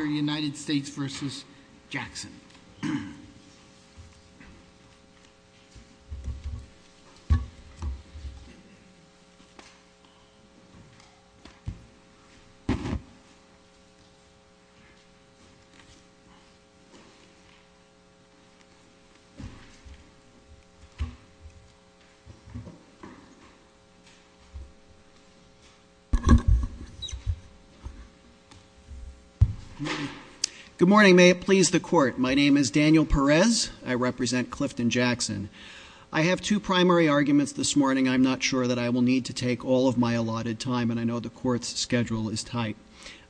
rson. Good morning. May it please the court. My name is Daniel Perez. I represent Clifton Jackson. I have two primary arguments this morning. I'm not sure that I will need to take all of my allotted time and I know the court's schedule is tight.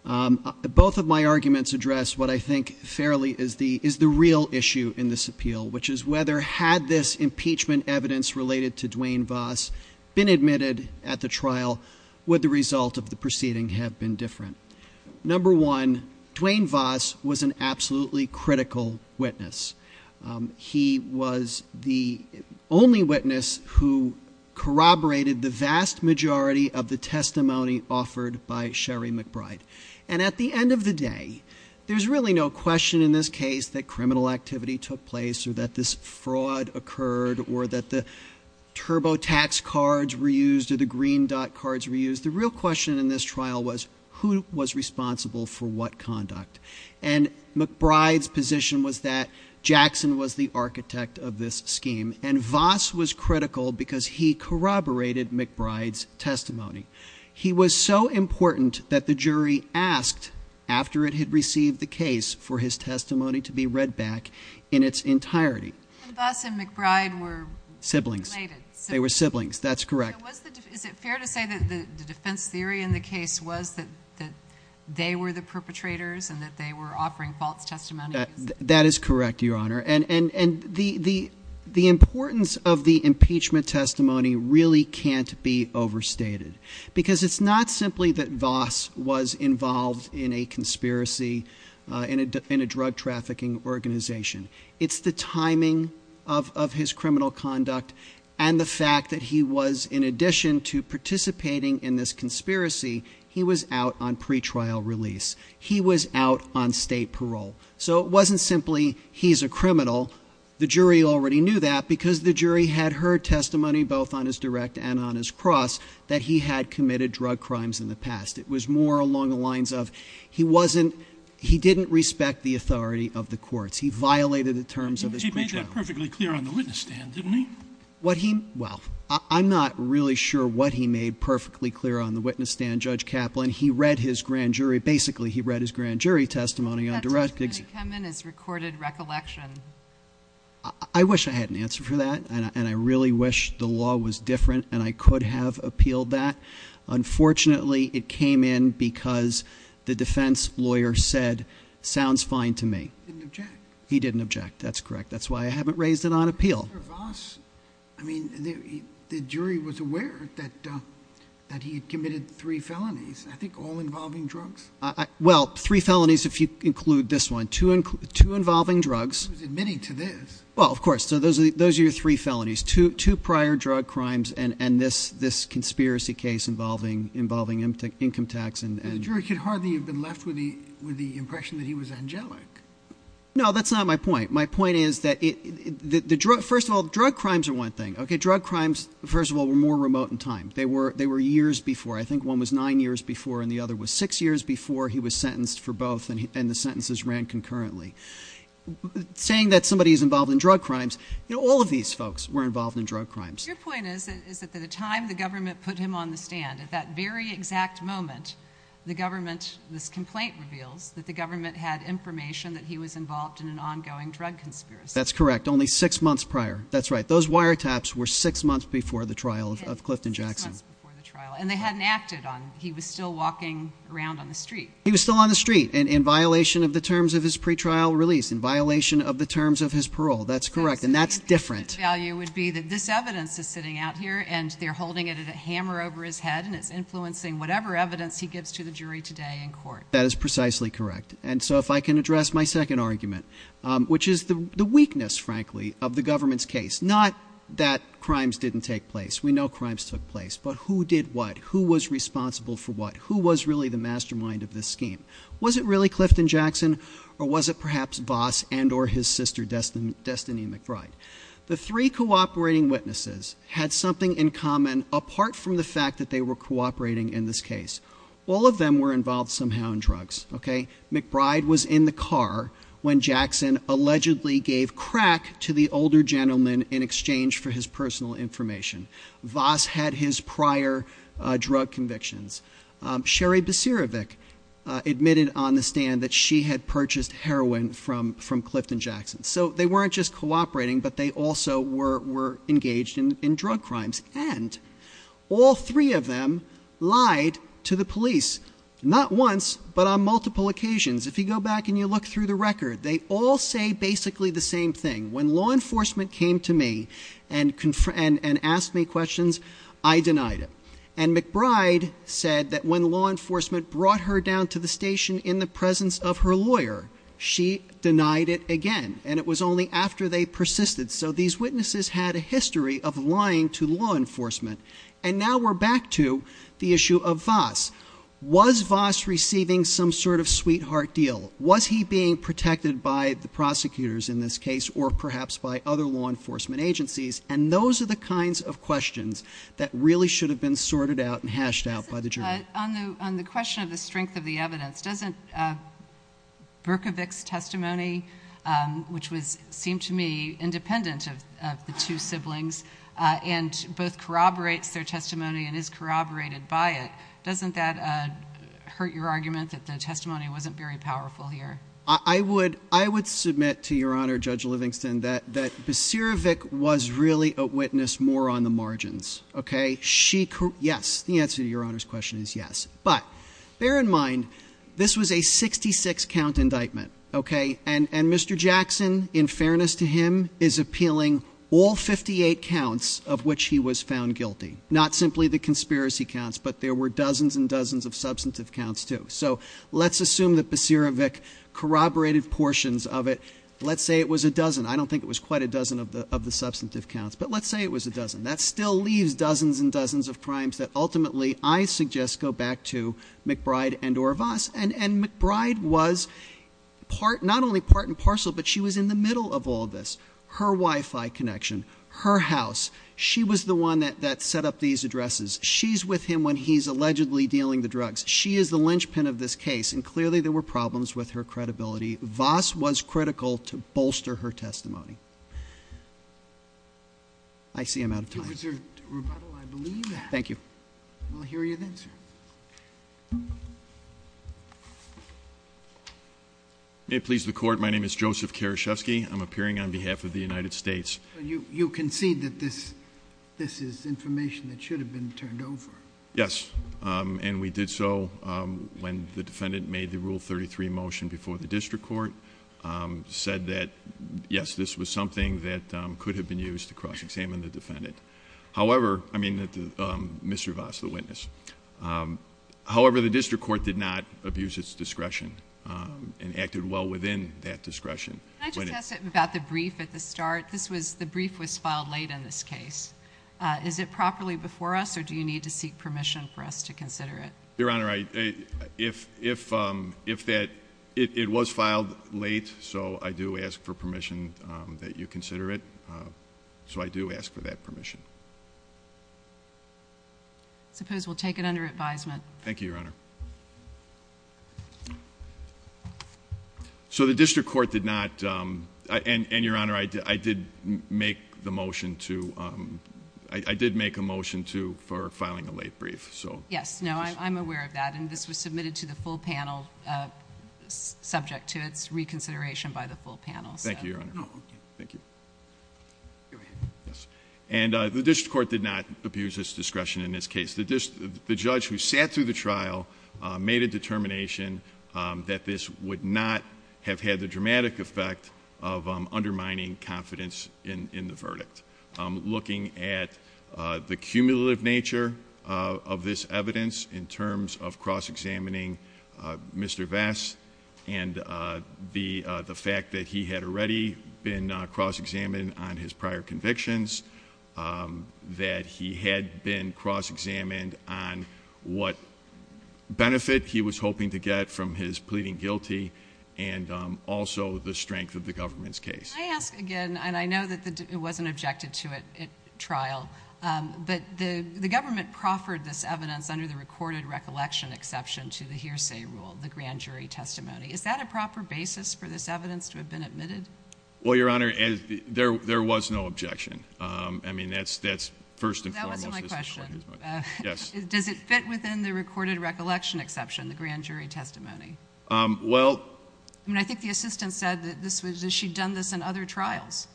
Both of my arguments address what I think fairly is the is the real issue in this appeal, which is whether had this impeachment evidence related to Dwayne Voss been admitted at the trial, would the result of the proceeding have been different. Number one, Dwayne Voss was an absolutely critical witness. He was the only witness who corroborated the vast majority of the testimony offered by Sherry McBride. And at the end of the day, there's really no question in this case that criminal activity took place or that this fraud occurred or that the TurboTax cards were used or the Green Dot cards were used. The real question in this trial was who was responsible for what conduct. And McBride's position was that Jackson was the architect of this scheme and Voss was critical because he corroborated McBride's testimony. He was so important that the jury asked after it had received the case for his testimony to be read back in its entirety. Voss and McBride were siblings. They were siblings. That's correct, Your Honor. And the importance of the impeachment testimony really can't be overstated. Because it's not simply that Voss was involved in a conspiracy, in a drug trafficking organization. It's the timing of his criminal conduct and the fact that he was, in addition to participating in this conspiracy, was also involved in this fraud. He was out on pre-trial release. He was out on state parole. So it wasn't simply he's a criminal. The jury already knew that because the jury had heard testimony both on his direct and on his cross that he had committed drug crimes in the past. It was more along the lines of he wasn't, he didn't respect the authority of the courts. He violated the terms of his pre-trial release. He made that perfectly clear on the witness stand, didn't he? What he, well, I'm not really sure what he made perfectly clear on the witness stand, Judge Kaplan. He read his grand jury, basically he read his grand jury testimony on direct. That testimony come in as recorded recollection. I wish I had an answer for that. And I really wish the law was different and I could have appealed that. Unfortunately, it came in because the defense lawyer said, sounds fine to me. He didn't object. He didn't object. That's correct. That's why I haven't raised it on appeal. Mr. Voss, I mean, the jury was aware that he had committed three felonies. I think all involving drugs. Well, three felonies if you include this one. Two involving drugs. He was admitting to this. Well, of course. So those are your three felonies. Two prior drug crimes and this conspiracy case involving income tax and The jury could hardly have been left with the impression that he was angelic. No, that's not my point. My point is that the first of all, drug crimes are one thing. OK, drug crimes, first of all, were more remote in time. They were they were years before. I think one was nine years before and the other was six years before he was sentenced for both. And the sentences ran concurrently, saying that somebody is involved in drug crimes. All of these folks were involved in drug crimes. Your point is that the time the government put him on the stand at that very exact moment, the government, this complaint reveals that the government had information that he was involved in an ongoing drug conspiracy. That's correct. Only six months prior. That's right. Those wiretaps were six months before the trial of Clifton Jackson. And they hadn't acted on. He was still walking around on the street. He was still on the street and in violation of the terms of his pretrial release, in violation of the terms of his parole. That's correct. And that's different. Value would be that this evidence is sitting out here and they're holding it at a hammer over his head and it's influencing whatever evidence he gives to the jury today in court. That is precisely correct. And so if I can address my second argument, which is the weakness, frankly, of the government's case, not that crimes didn't take place. We know crimes took place. But who did what? Who was responsible for what? Who was really the mastermind of this scheme? Was it really Clifton Jackson or was it perhaps Voss and or his sister, Destiny McBride? The three cooperating witnesses had something in common apart from the fact that they were cooperating in this case. All of them were involved somehow in drugs. OK. McBride was in the car when Jackson allegedly gave crack to the older gentleman in exchange for his personal information. Voss had his prior drug convictions. Sherry Basirovic admitted on the stand that she had purchased heroin from Clifton Jackson. So they weren't just cooperating, but they also were engaged in drug crimes. And all three of them lied to the police, not once, but on multiple occasions. If you go back and you look through the record, they all say basically the same thing. When law enforcement came to me and asked me questions, I denied it. And McBride said that when law enforcement brought her down to the station in the presence of her lawyer, she denied it again. And it was only after they persisted. So these witnesses had a history of lying to law enforcement. And now we're back to the issue of Voss. Was Voss receiving some sort of sweetheart deal? Was he being protected by the prosecutors in this case or perhaps by other law enforcement agencies? And those are the kinds of questions that really should have been sorted out and hashed out by the jury. On the question of the strength of the evidence, doesn't Berkovic's testimony, which seemed to me independent of the two siblings, and both corroborates their testimony and is corroborated by it, doesn't that hurt your argument that the testimony wasn't very powerful here? I would submit to Your Honor, Judge Livingston, that Basirovic was really a witness more on the margins. Yes, the answer to Your Honor's question is yes. But bear in mind, this was a 66 count indictment. And Mr. Jackson, in fairness to him, is appealing all 58 counts of which he was found guilty. Not simply the conspiracy counts, but there were dozens and dozens of substantive counts too. So let's assume that Basirovic corroborated portions of it. Let's say it was a dozen. I don't think it was quite a dozen of the substantive counts, but let's say it was a dozen. That still leaves dozens and dozens of crimes that ultimately I suggest go back to McBride and or Voss. And McBride was not only part and parcel, but she was in the middle of all this. Her Wi-Fi connection, her house, she was the one that set up these addresses. She's with him when he's allegedly dealing the drugs. She is the linchpin of this case, and clearly there were problems with her credibility. Voss was critical to bolster her testimony. I see I'm out of time. A reserved rebuttal, I believe. Thank you. We'll hear you then, sir. May it please the court, my name is Joseph Karashevsky. I'm appearing on behalf of the United States. You concede that this is information that should have been turned over. Yes, and we did so when the defendant made the Rule 33 motion before the district court. Said that, yes, this was something that could have been used to cross-examine the defendant. However, I mean, Mr. Voss, the witness. However, the district court did not abuse its discretion and acted well within that discretion. Can I just ask about the brief at the start? The brief was filed late in this case. Is it properly before us, or do you need to seek permission for us to consider it? Your Honor, it was filed late, so I do ask for permission that you consider it. So I do ask for that permission. I suppose we'll take it under advisement. Thank you, Your Honor. So the district court did not, and Your Honor, I did make a motion for filing a late brief. Yes, no, I'm aware of that, and this was submitted to the full panel subject to its reconsideration by the full panel. Thank you, Your Honor. Thank you. And the district court did not abuse its discretion in this case. The judge who sat through the trial made a determination that this would not have had the dramatic effect of undermining confidence in the verdict. Looking at the cumulative nature of this evidence in terms of cross-examining Mr. Vest and the fact that he had already been cross-examined on his prior convictions, that he had been cross-examined on what benefit he was hoping to get from his pleading guilty, and also the strength of the government's case. Can I ask again, and I know that it wasn't objected to at trial, but the government proffered this evidence under the recorded recollection exception to the hearsay rule, the grand jury testimony. Is that a proper basis for this evidence to have been admitted? Well, Your Honor, there was no objection. I mean, that's first and foremost. That wasn't my question. Yes. Does it fit within the recorded recollection exception, the grand jury testimony? Well- I mean, I think the assistant said that she'd done this in other trials.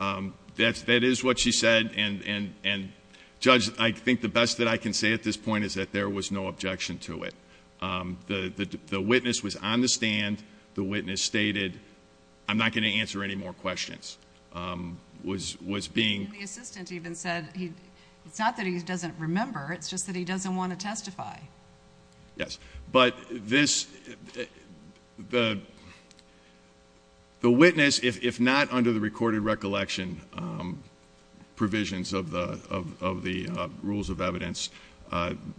That is what she said, and, Judge, I think the best that I can say at this point is that there was no objection to it. The witness was on the stand. The witness stated, I'm not going to answer any more questions, was being- The assistant even said it's not that he doesn't remember. It's just that he doesn't want to testify. Yes. But this- the witness, if not under the recorded recollection provisions of the rules of evidence,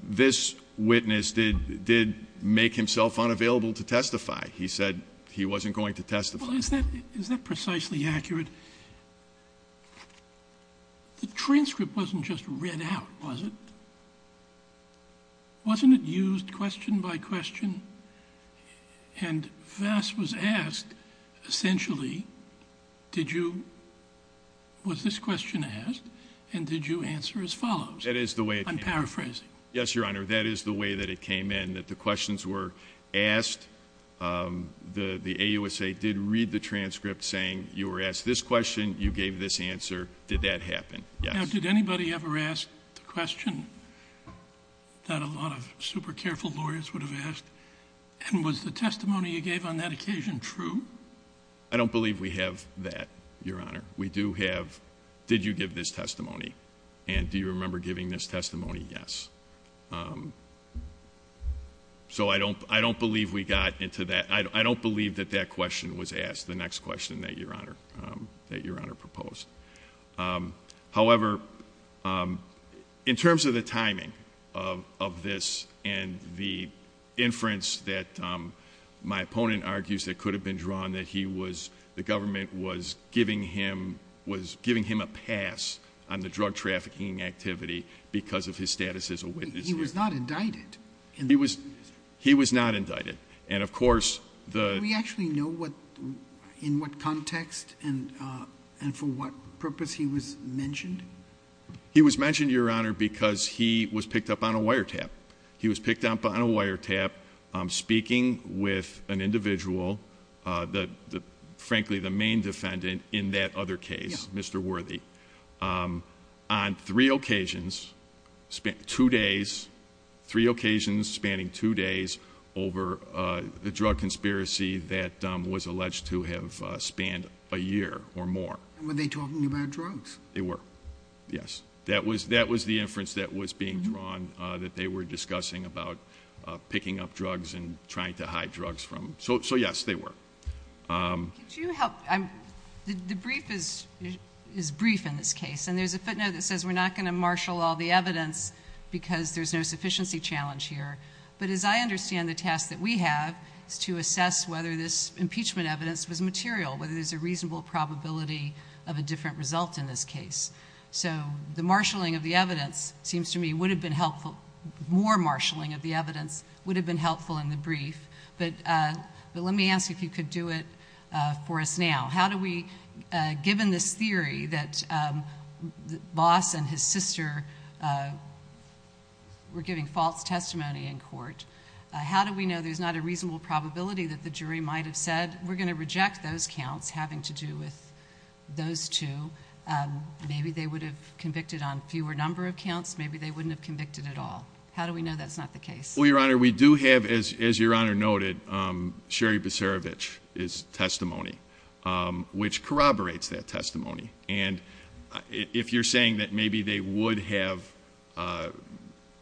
this witness did make himself unavailable to testify. He said he wasn't going to testify. Well, is that precisely accurate? The transcript wasn't just read out, was it? Wasn't it used question by question? And Vass was asked, essentially, did you- was this question asked and did you answer as follows? That is the way- I'm paraphrasing. Yes, Your Honor. That is the way that it came in, that the questions were asked. The AUSA did read the transcript saying you were asked this question, you gave this answer. Did that happen? Yes. Did anybody ever ask the question that a lot of super careful lawyers would have asked? And was the testimony you gave on that occasion true? I don't believe we have that, Your Honor. We do have, did you give this testimony? And do you remember giving this testimony? Yes. So I don't believe we got into that. I don't believe that that question was asked, the next question that Your Honor proposed. However, in terms of the timing of this and the inference that my opponent argues that could have been drawn, that he was- the government was giving him a pass on the drug trafficking activity because of his status as a witness here. He was not indicted. He was not indicted. And of course, the- Do we actually know in what context and for what purpose he was mentioned? He was mentioned, Your Honor, because he was picked up on a wiretap. He was picked up on a wiretap speaking with an individual, frankly the main defendant in that other case, Mr. Worthy, on three occasions, two days, three occasions spanning two days over the drug conspiracy that was alleged to have spanned a year or more. Were they talking about drugs? They were, yes. That was the inference that was being drawn that they were discussing about picking up drugs and trying to hide drugs from him. So yes, they were. Could you help- the brief is brief in this case. And there's a footnote that says we're not going to marshal all the evidence because there's no sufficiency challenge here. But as I understand the task that we have is to assess whether this impeachment evidence was material, whether there's a reasonable probability of a different result in this case. So the marshaling of the evidence seems to me would have been helpful. More marshaling of the evidence would have been helpful in the brief. But let me ask if you could do it for us now. How do we, given this theory that Voss and his sister were giving false testimony in court, how do we know there's not a reasonable probability that the jury might have said, we're going to reject those counts having to do with those two. Maybe they would have convicted on fewer number of counts. Maybe they wouldn't have convicted at all. How do we know that's not the case? Well, Your Honor, we do have, as Your Honor noted, Sherry Biserovich's testimony, which corroborates that testimony. And if you're saying that maybe they would have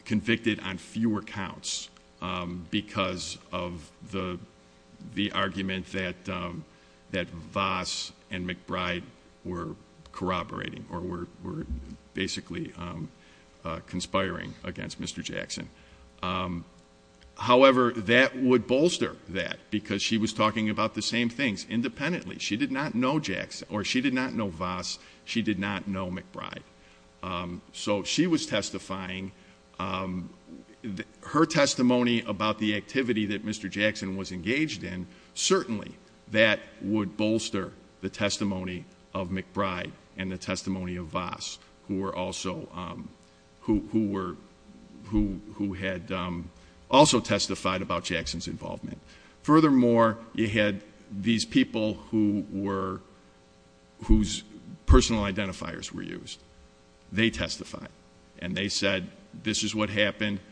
convicted on fewer counts because of the argument that Voss and McBride were corroborating or were basically conspiring against Mr. Jackson. However, that would bolster that because she was talking about the same things independently. She did not know Voss. She did not know McBride. So she was testifying. Her testimony about the activity that Mr. Jackson was engaged in, certainly that would bolster the testimony of McBride and the testimony of Voss, who had also testified about Jackson's involvement. Furthermore, you had these people whose personal identifiers were used. They testified. And they said, this is what happened. And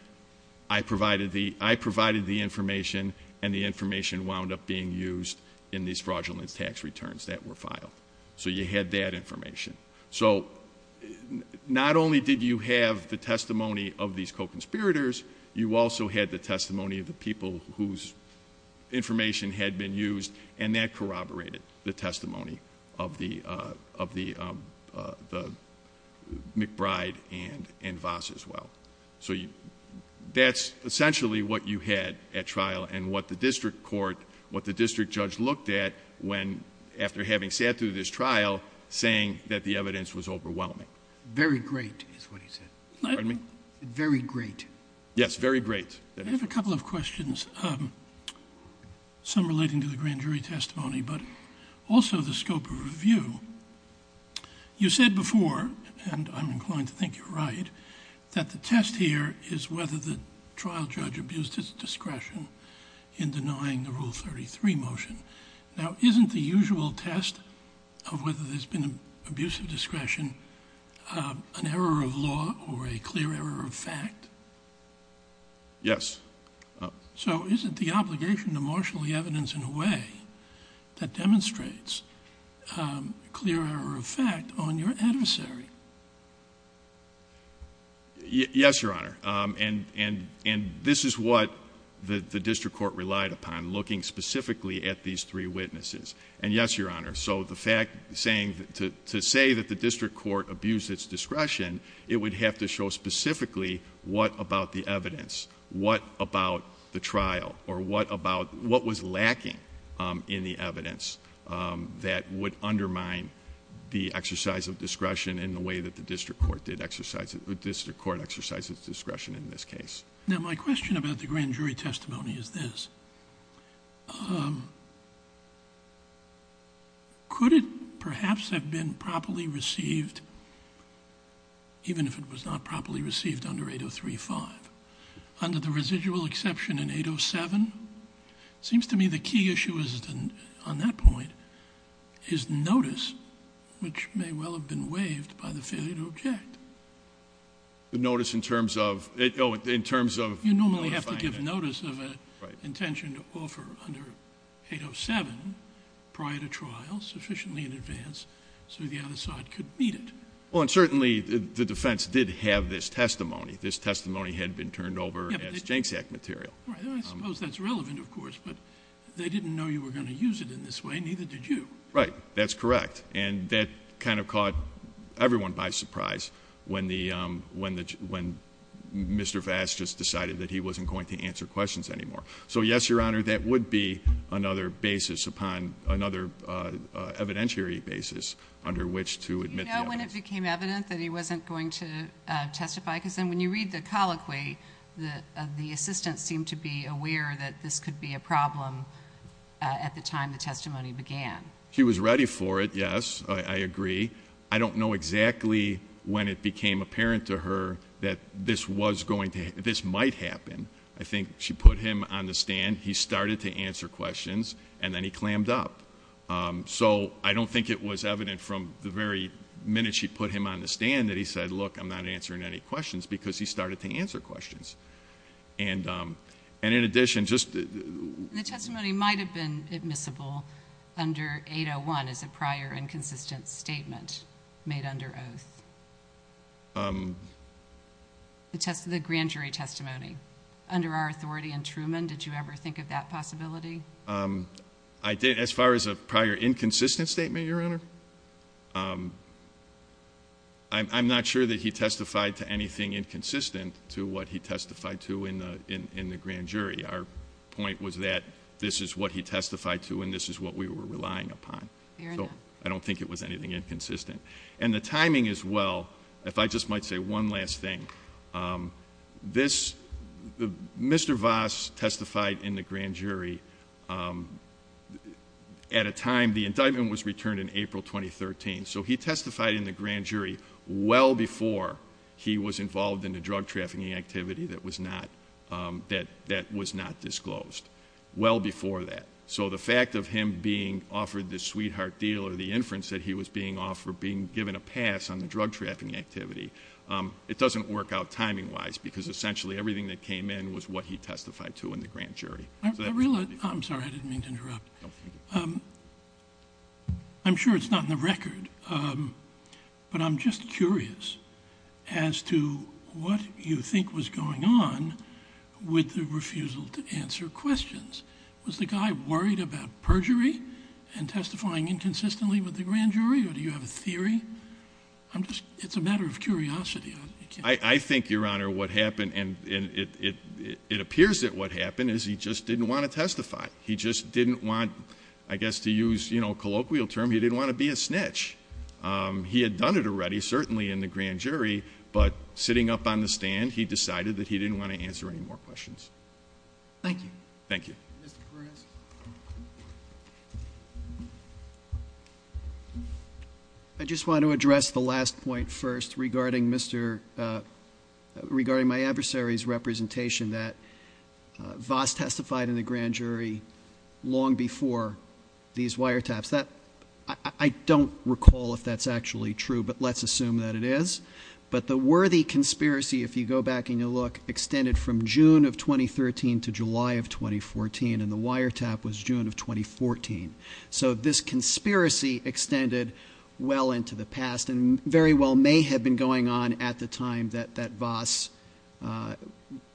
I provided the information, and the information wound up being used in these fraudulence tax returns that were filed. So you had that information. So not only did you have the testimony of these co-conspirators, you also had the testimony of the people whose information had been used, and that corroborated the testimony of McBride and Voss as well. So that's essentially what you had at trial and what the district court, what the district judge looked at after having sat through this trial, saying that the evidence was overwhelming. Very great is what he said. Pardon me? Very great. Yes, very great. I have a couple of questions, some relating to the grand jury testimony, but also the scope of review. You said before, and I'm inclined to think you're right, that the test here is whether the trial judge abused his discretion in denying the Rule 33 motion. Now, isn't the usual test of whether there's been an abuse of discretion an error of law or a clear error of fact? Yes. So isn't the obligation to marshal the evidence in a way that demonstrates clear error of fact on your adversary? Yes, Your Honor. And this is what the district court relied upon, looking specifically at these three witnesses. And yes, Your Honor, so the fact, to say that the district court abused its discretion, it would have to show specifically what about the evidence, what about the trial, or what was lacking in the evidence that would undermine the exercise of discretion in the way that the district court exercised its discretion in this case. Now, my question about the grand jury testimony is this. Could it perhaps have been properly received, even if it was not properly received under 803-5? Under the residual exception in 807? It seems to me the key issue on that point is notice, which may well have been waived by the failure to object. The notice in terms of? You normally have to give notice of an intention to offer under 807 prior to trial, sufficiently in advance, so the other side could meet it. Well, and certainly the defense did have this testimony. This testimony had been turned over as JNCSAC material. I suppose that's relevant, of course, but they didn't know you were going to use it in this way, neither did you. Right. That's correct. And that kind of caught everyone by surprise when Mr. Vass just decided that he wasn't going to answer questions anymore. So, yes, Your Honor, that would be another basis upon another evidentiary basis under which to admit the evidence. Do you know when it became evident that he wasn't going to testify? Because then when you read the colloquy, the assistant seemed to be aware that this could be a problem at the time the testimony began. He was ready for it, yes, I agree. I don't know exactly when it became apparent to her that this might happen. I think she put him on the stand, he started to answer questions, and then he clammed up. So I don't think it was evident from the very minute she put him on the stand that he said, look, I'm not answering any questions, because he started to answer questions. And in addition, just the testimony might have been admissible under 801 as a prior inconsistent statement made under oath. The grand jury testimony under our authority in Truman, did you ever think of that possibility? I did as far as a prior inconsistent statement, Your Honor. I'm not sure that he testified to anything inconsistent to what he testified to in the grand jury. Our point was that this is what he testified to and this is what we were relying upon. Fair enough. I don't think it was anything inconsistent. And the timing as well, if I just might say one last thing. This, Mr. Voss testified in the grand jury at a time, the indictment was returned in April 2013. So he testified in the grand jury well before he was involved in the drug trafficking activity that was not disclosed, well before that. So the fact of him being offered this sweetheart deal or the inference that he was being offered, being given a pass on the drug trafficking activity. It doesn't work out timing wise because essentially everything that came in was what he testified to in the grand jury. I realize, I'm sorry, I didn't mean to interrupt. No, thank you. I'm sure it's not in the record, but I'm just curious as to what you think was going on with the refusal to answer questions. Was the guy worried about perjury and testifying inconsistently with the grand jury or do you have a theory? It's a matter of curiosity. I think, Your Honor, what happened and it appears that what happened is he just didn't want to testify. He just didn't want, I guess to use a colloquial term, he didn't want to be a snitch. He had done it already, certainly in the grand jury, but sitting up on the stand, he decided that he didn't want to answer any more questions. Thank you. Thank you. Mr. Perez. I just want to address the last point first regarding my adversary's representation that Voss testified in the grand jury long before these wiretaps. I don't recall if that's actually true, but let's assume that it is. But the worthy conspiracy, if you go back and you look, extended from June of 2013 to July of 2014. And the wiretap was June of 2014. So this conspiracy extended well into the past and very well may have been going on at the time that Voss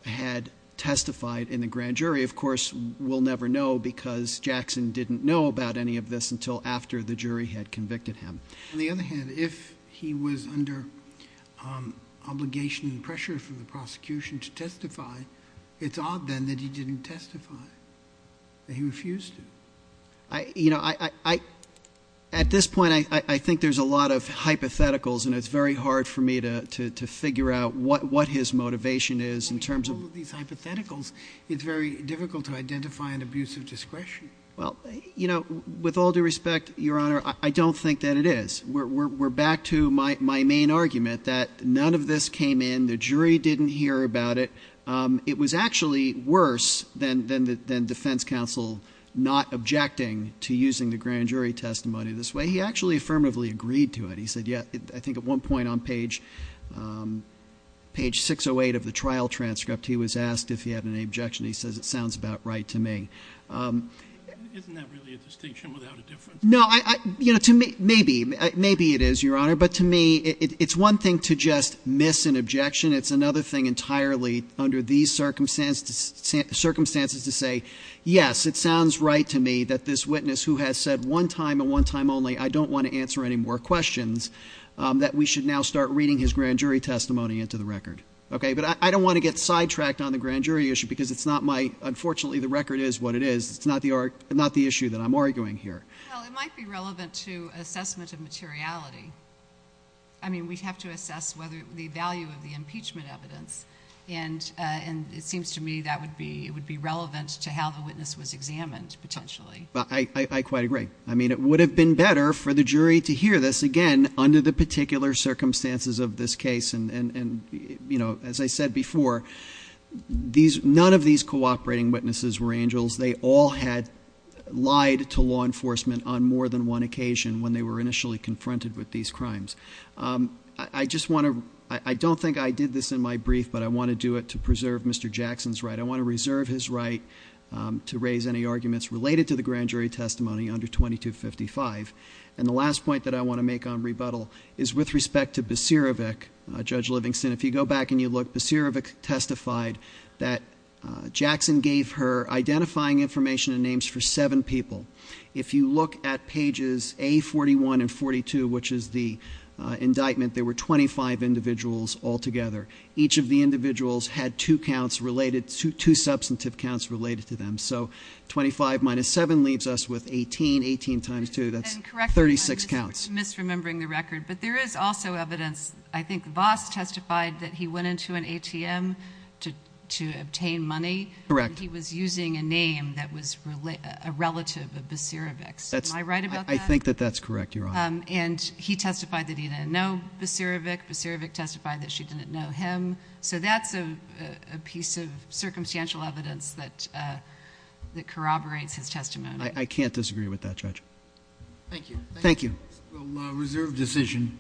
had testified in the grand jury. Of course, we'll never know because Jackson didn't know about any of this until after the jury had convicted him. On the other hand, if he was under obligation and pressure from the prosecution to testify, it's odd then that he didn't testify, that he refused to. You know, at this point, I think there's a lot of hypotheticals, and it's very hard for me to figure out what his motivation is in terms of— Well, in terms of these hypotheticals, it's very difficult to identify an abuse of discretion. Well, you know, with all due respect, Your Honor, I don't think that it is. We're back to my main argument that none of this came in. The jury didn't hear about it. It was actually worse than defense counsel not objecting to using the grand jury testimony this way. He actually affirmatively agreed to it. He said, yeah, I think at one point on page 608 of the trial transcript, he was asked if he had any objection. He says, it sounds about right to me. Isn't that really a distinction without a difference? No. Maybe. Maybe it is, Your Honor. But to me, it's one thing to just miss an objection. It's another thing entirely under these circumstances to say, yes, it sounds right to me that this witness who has said one time and one time only, I don't want to answer any more questions, that we should now start reading his grand jury testimony into the record. But I don't want to get sidetracked on the grand jury issue because it's not my, unfortunately, the record is what it is. It's not the issue that I'm arguing here. Well, it might be relevant to assessment of materiality. I mean, we have to assess whether the value of the impeachment evidence, and it seems to me that would be relevant to how the witness was examined, potentially. I quite agree. I mean, it would have been better for the jury to hear this, again, under the particular circumstances of this case. And as I said before, none of these cooperating witnesses were angels. They all had lied to law enforcement on more than one occasion when they were initially confronted with these crimes. I don't think I did this in my brief, but I want to do it to preserve Mr. Jackson's right. I want to reserve his right to raise any arguments related to the grand jury testimony under 2255. And the last point that I want to make on rebuttal is with respect to Baserevic, Judge Livingston. If you go back and you look, Baserevic testified that Jackson gave her identifying information and names for seven people. If you look at pages A41 and 42, which is the indictment, there were 25 individuals altogether. Each of the individuals had two counts related, two substantive counts related to them. So 25 minus 7 leaves us with 18, 18 times 2, that's 36 counts. And correct me if I'm just misremembering the record, but there is also evidence. I think Voss testified that he went into an ATM to obtain money. Correct. And he was using a name that was a relative of Baserevic's. Am I right about that? I think that that's correct, Your Honor. And he testified that he didn't know Baserevic. Baserevic testified that she didn't know him. So that's a piece of circumstantial evidence that corroborates his testimony. I can't disagree with that, Judge. Thank you. Thank you. We'll reserve decision.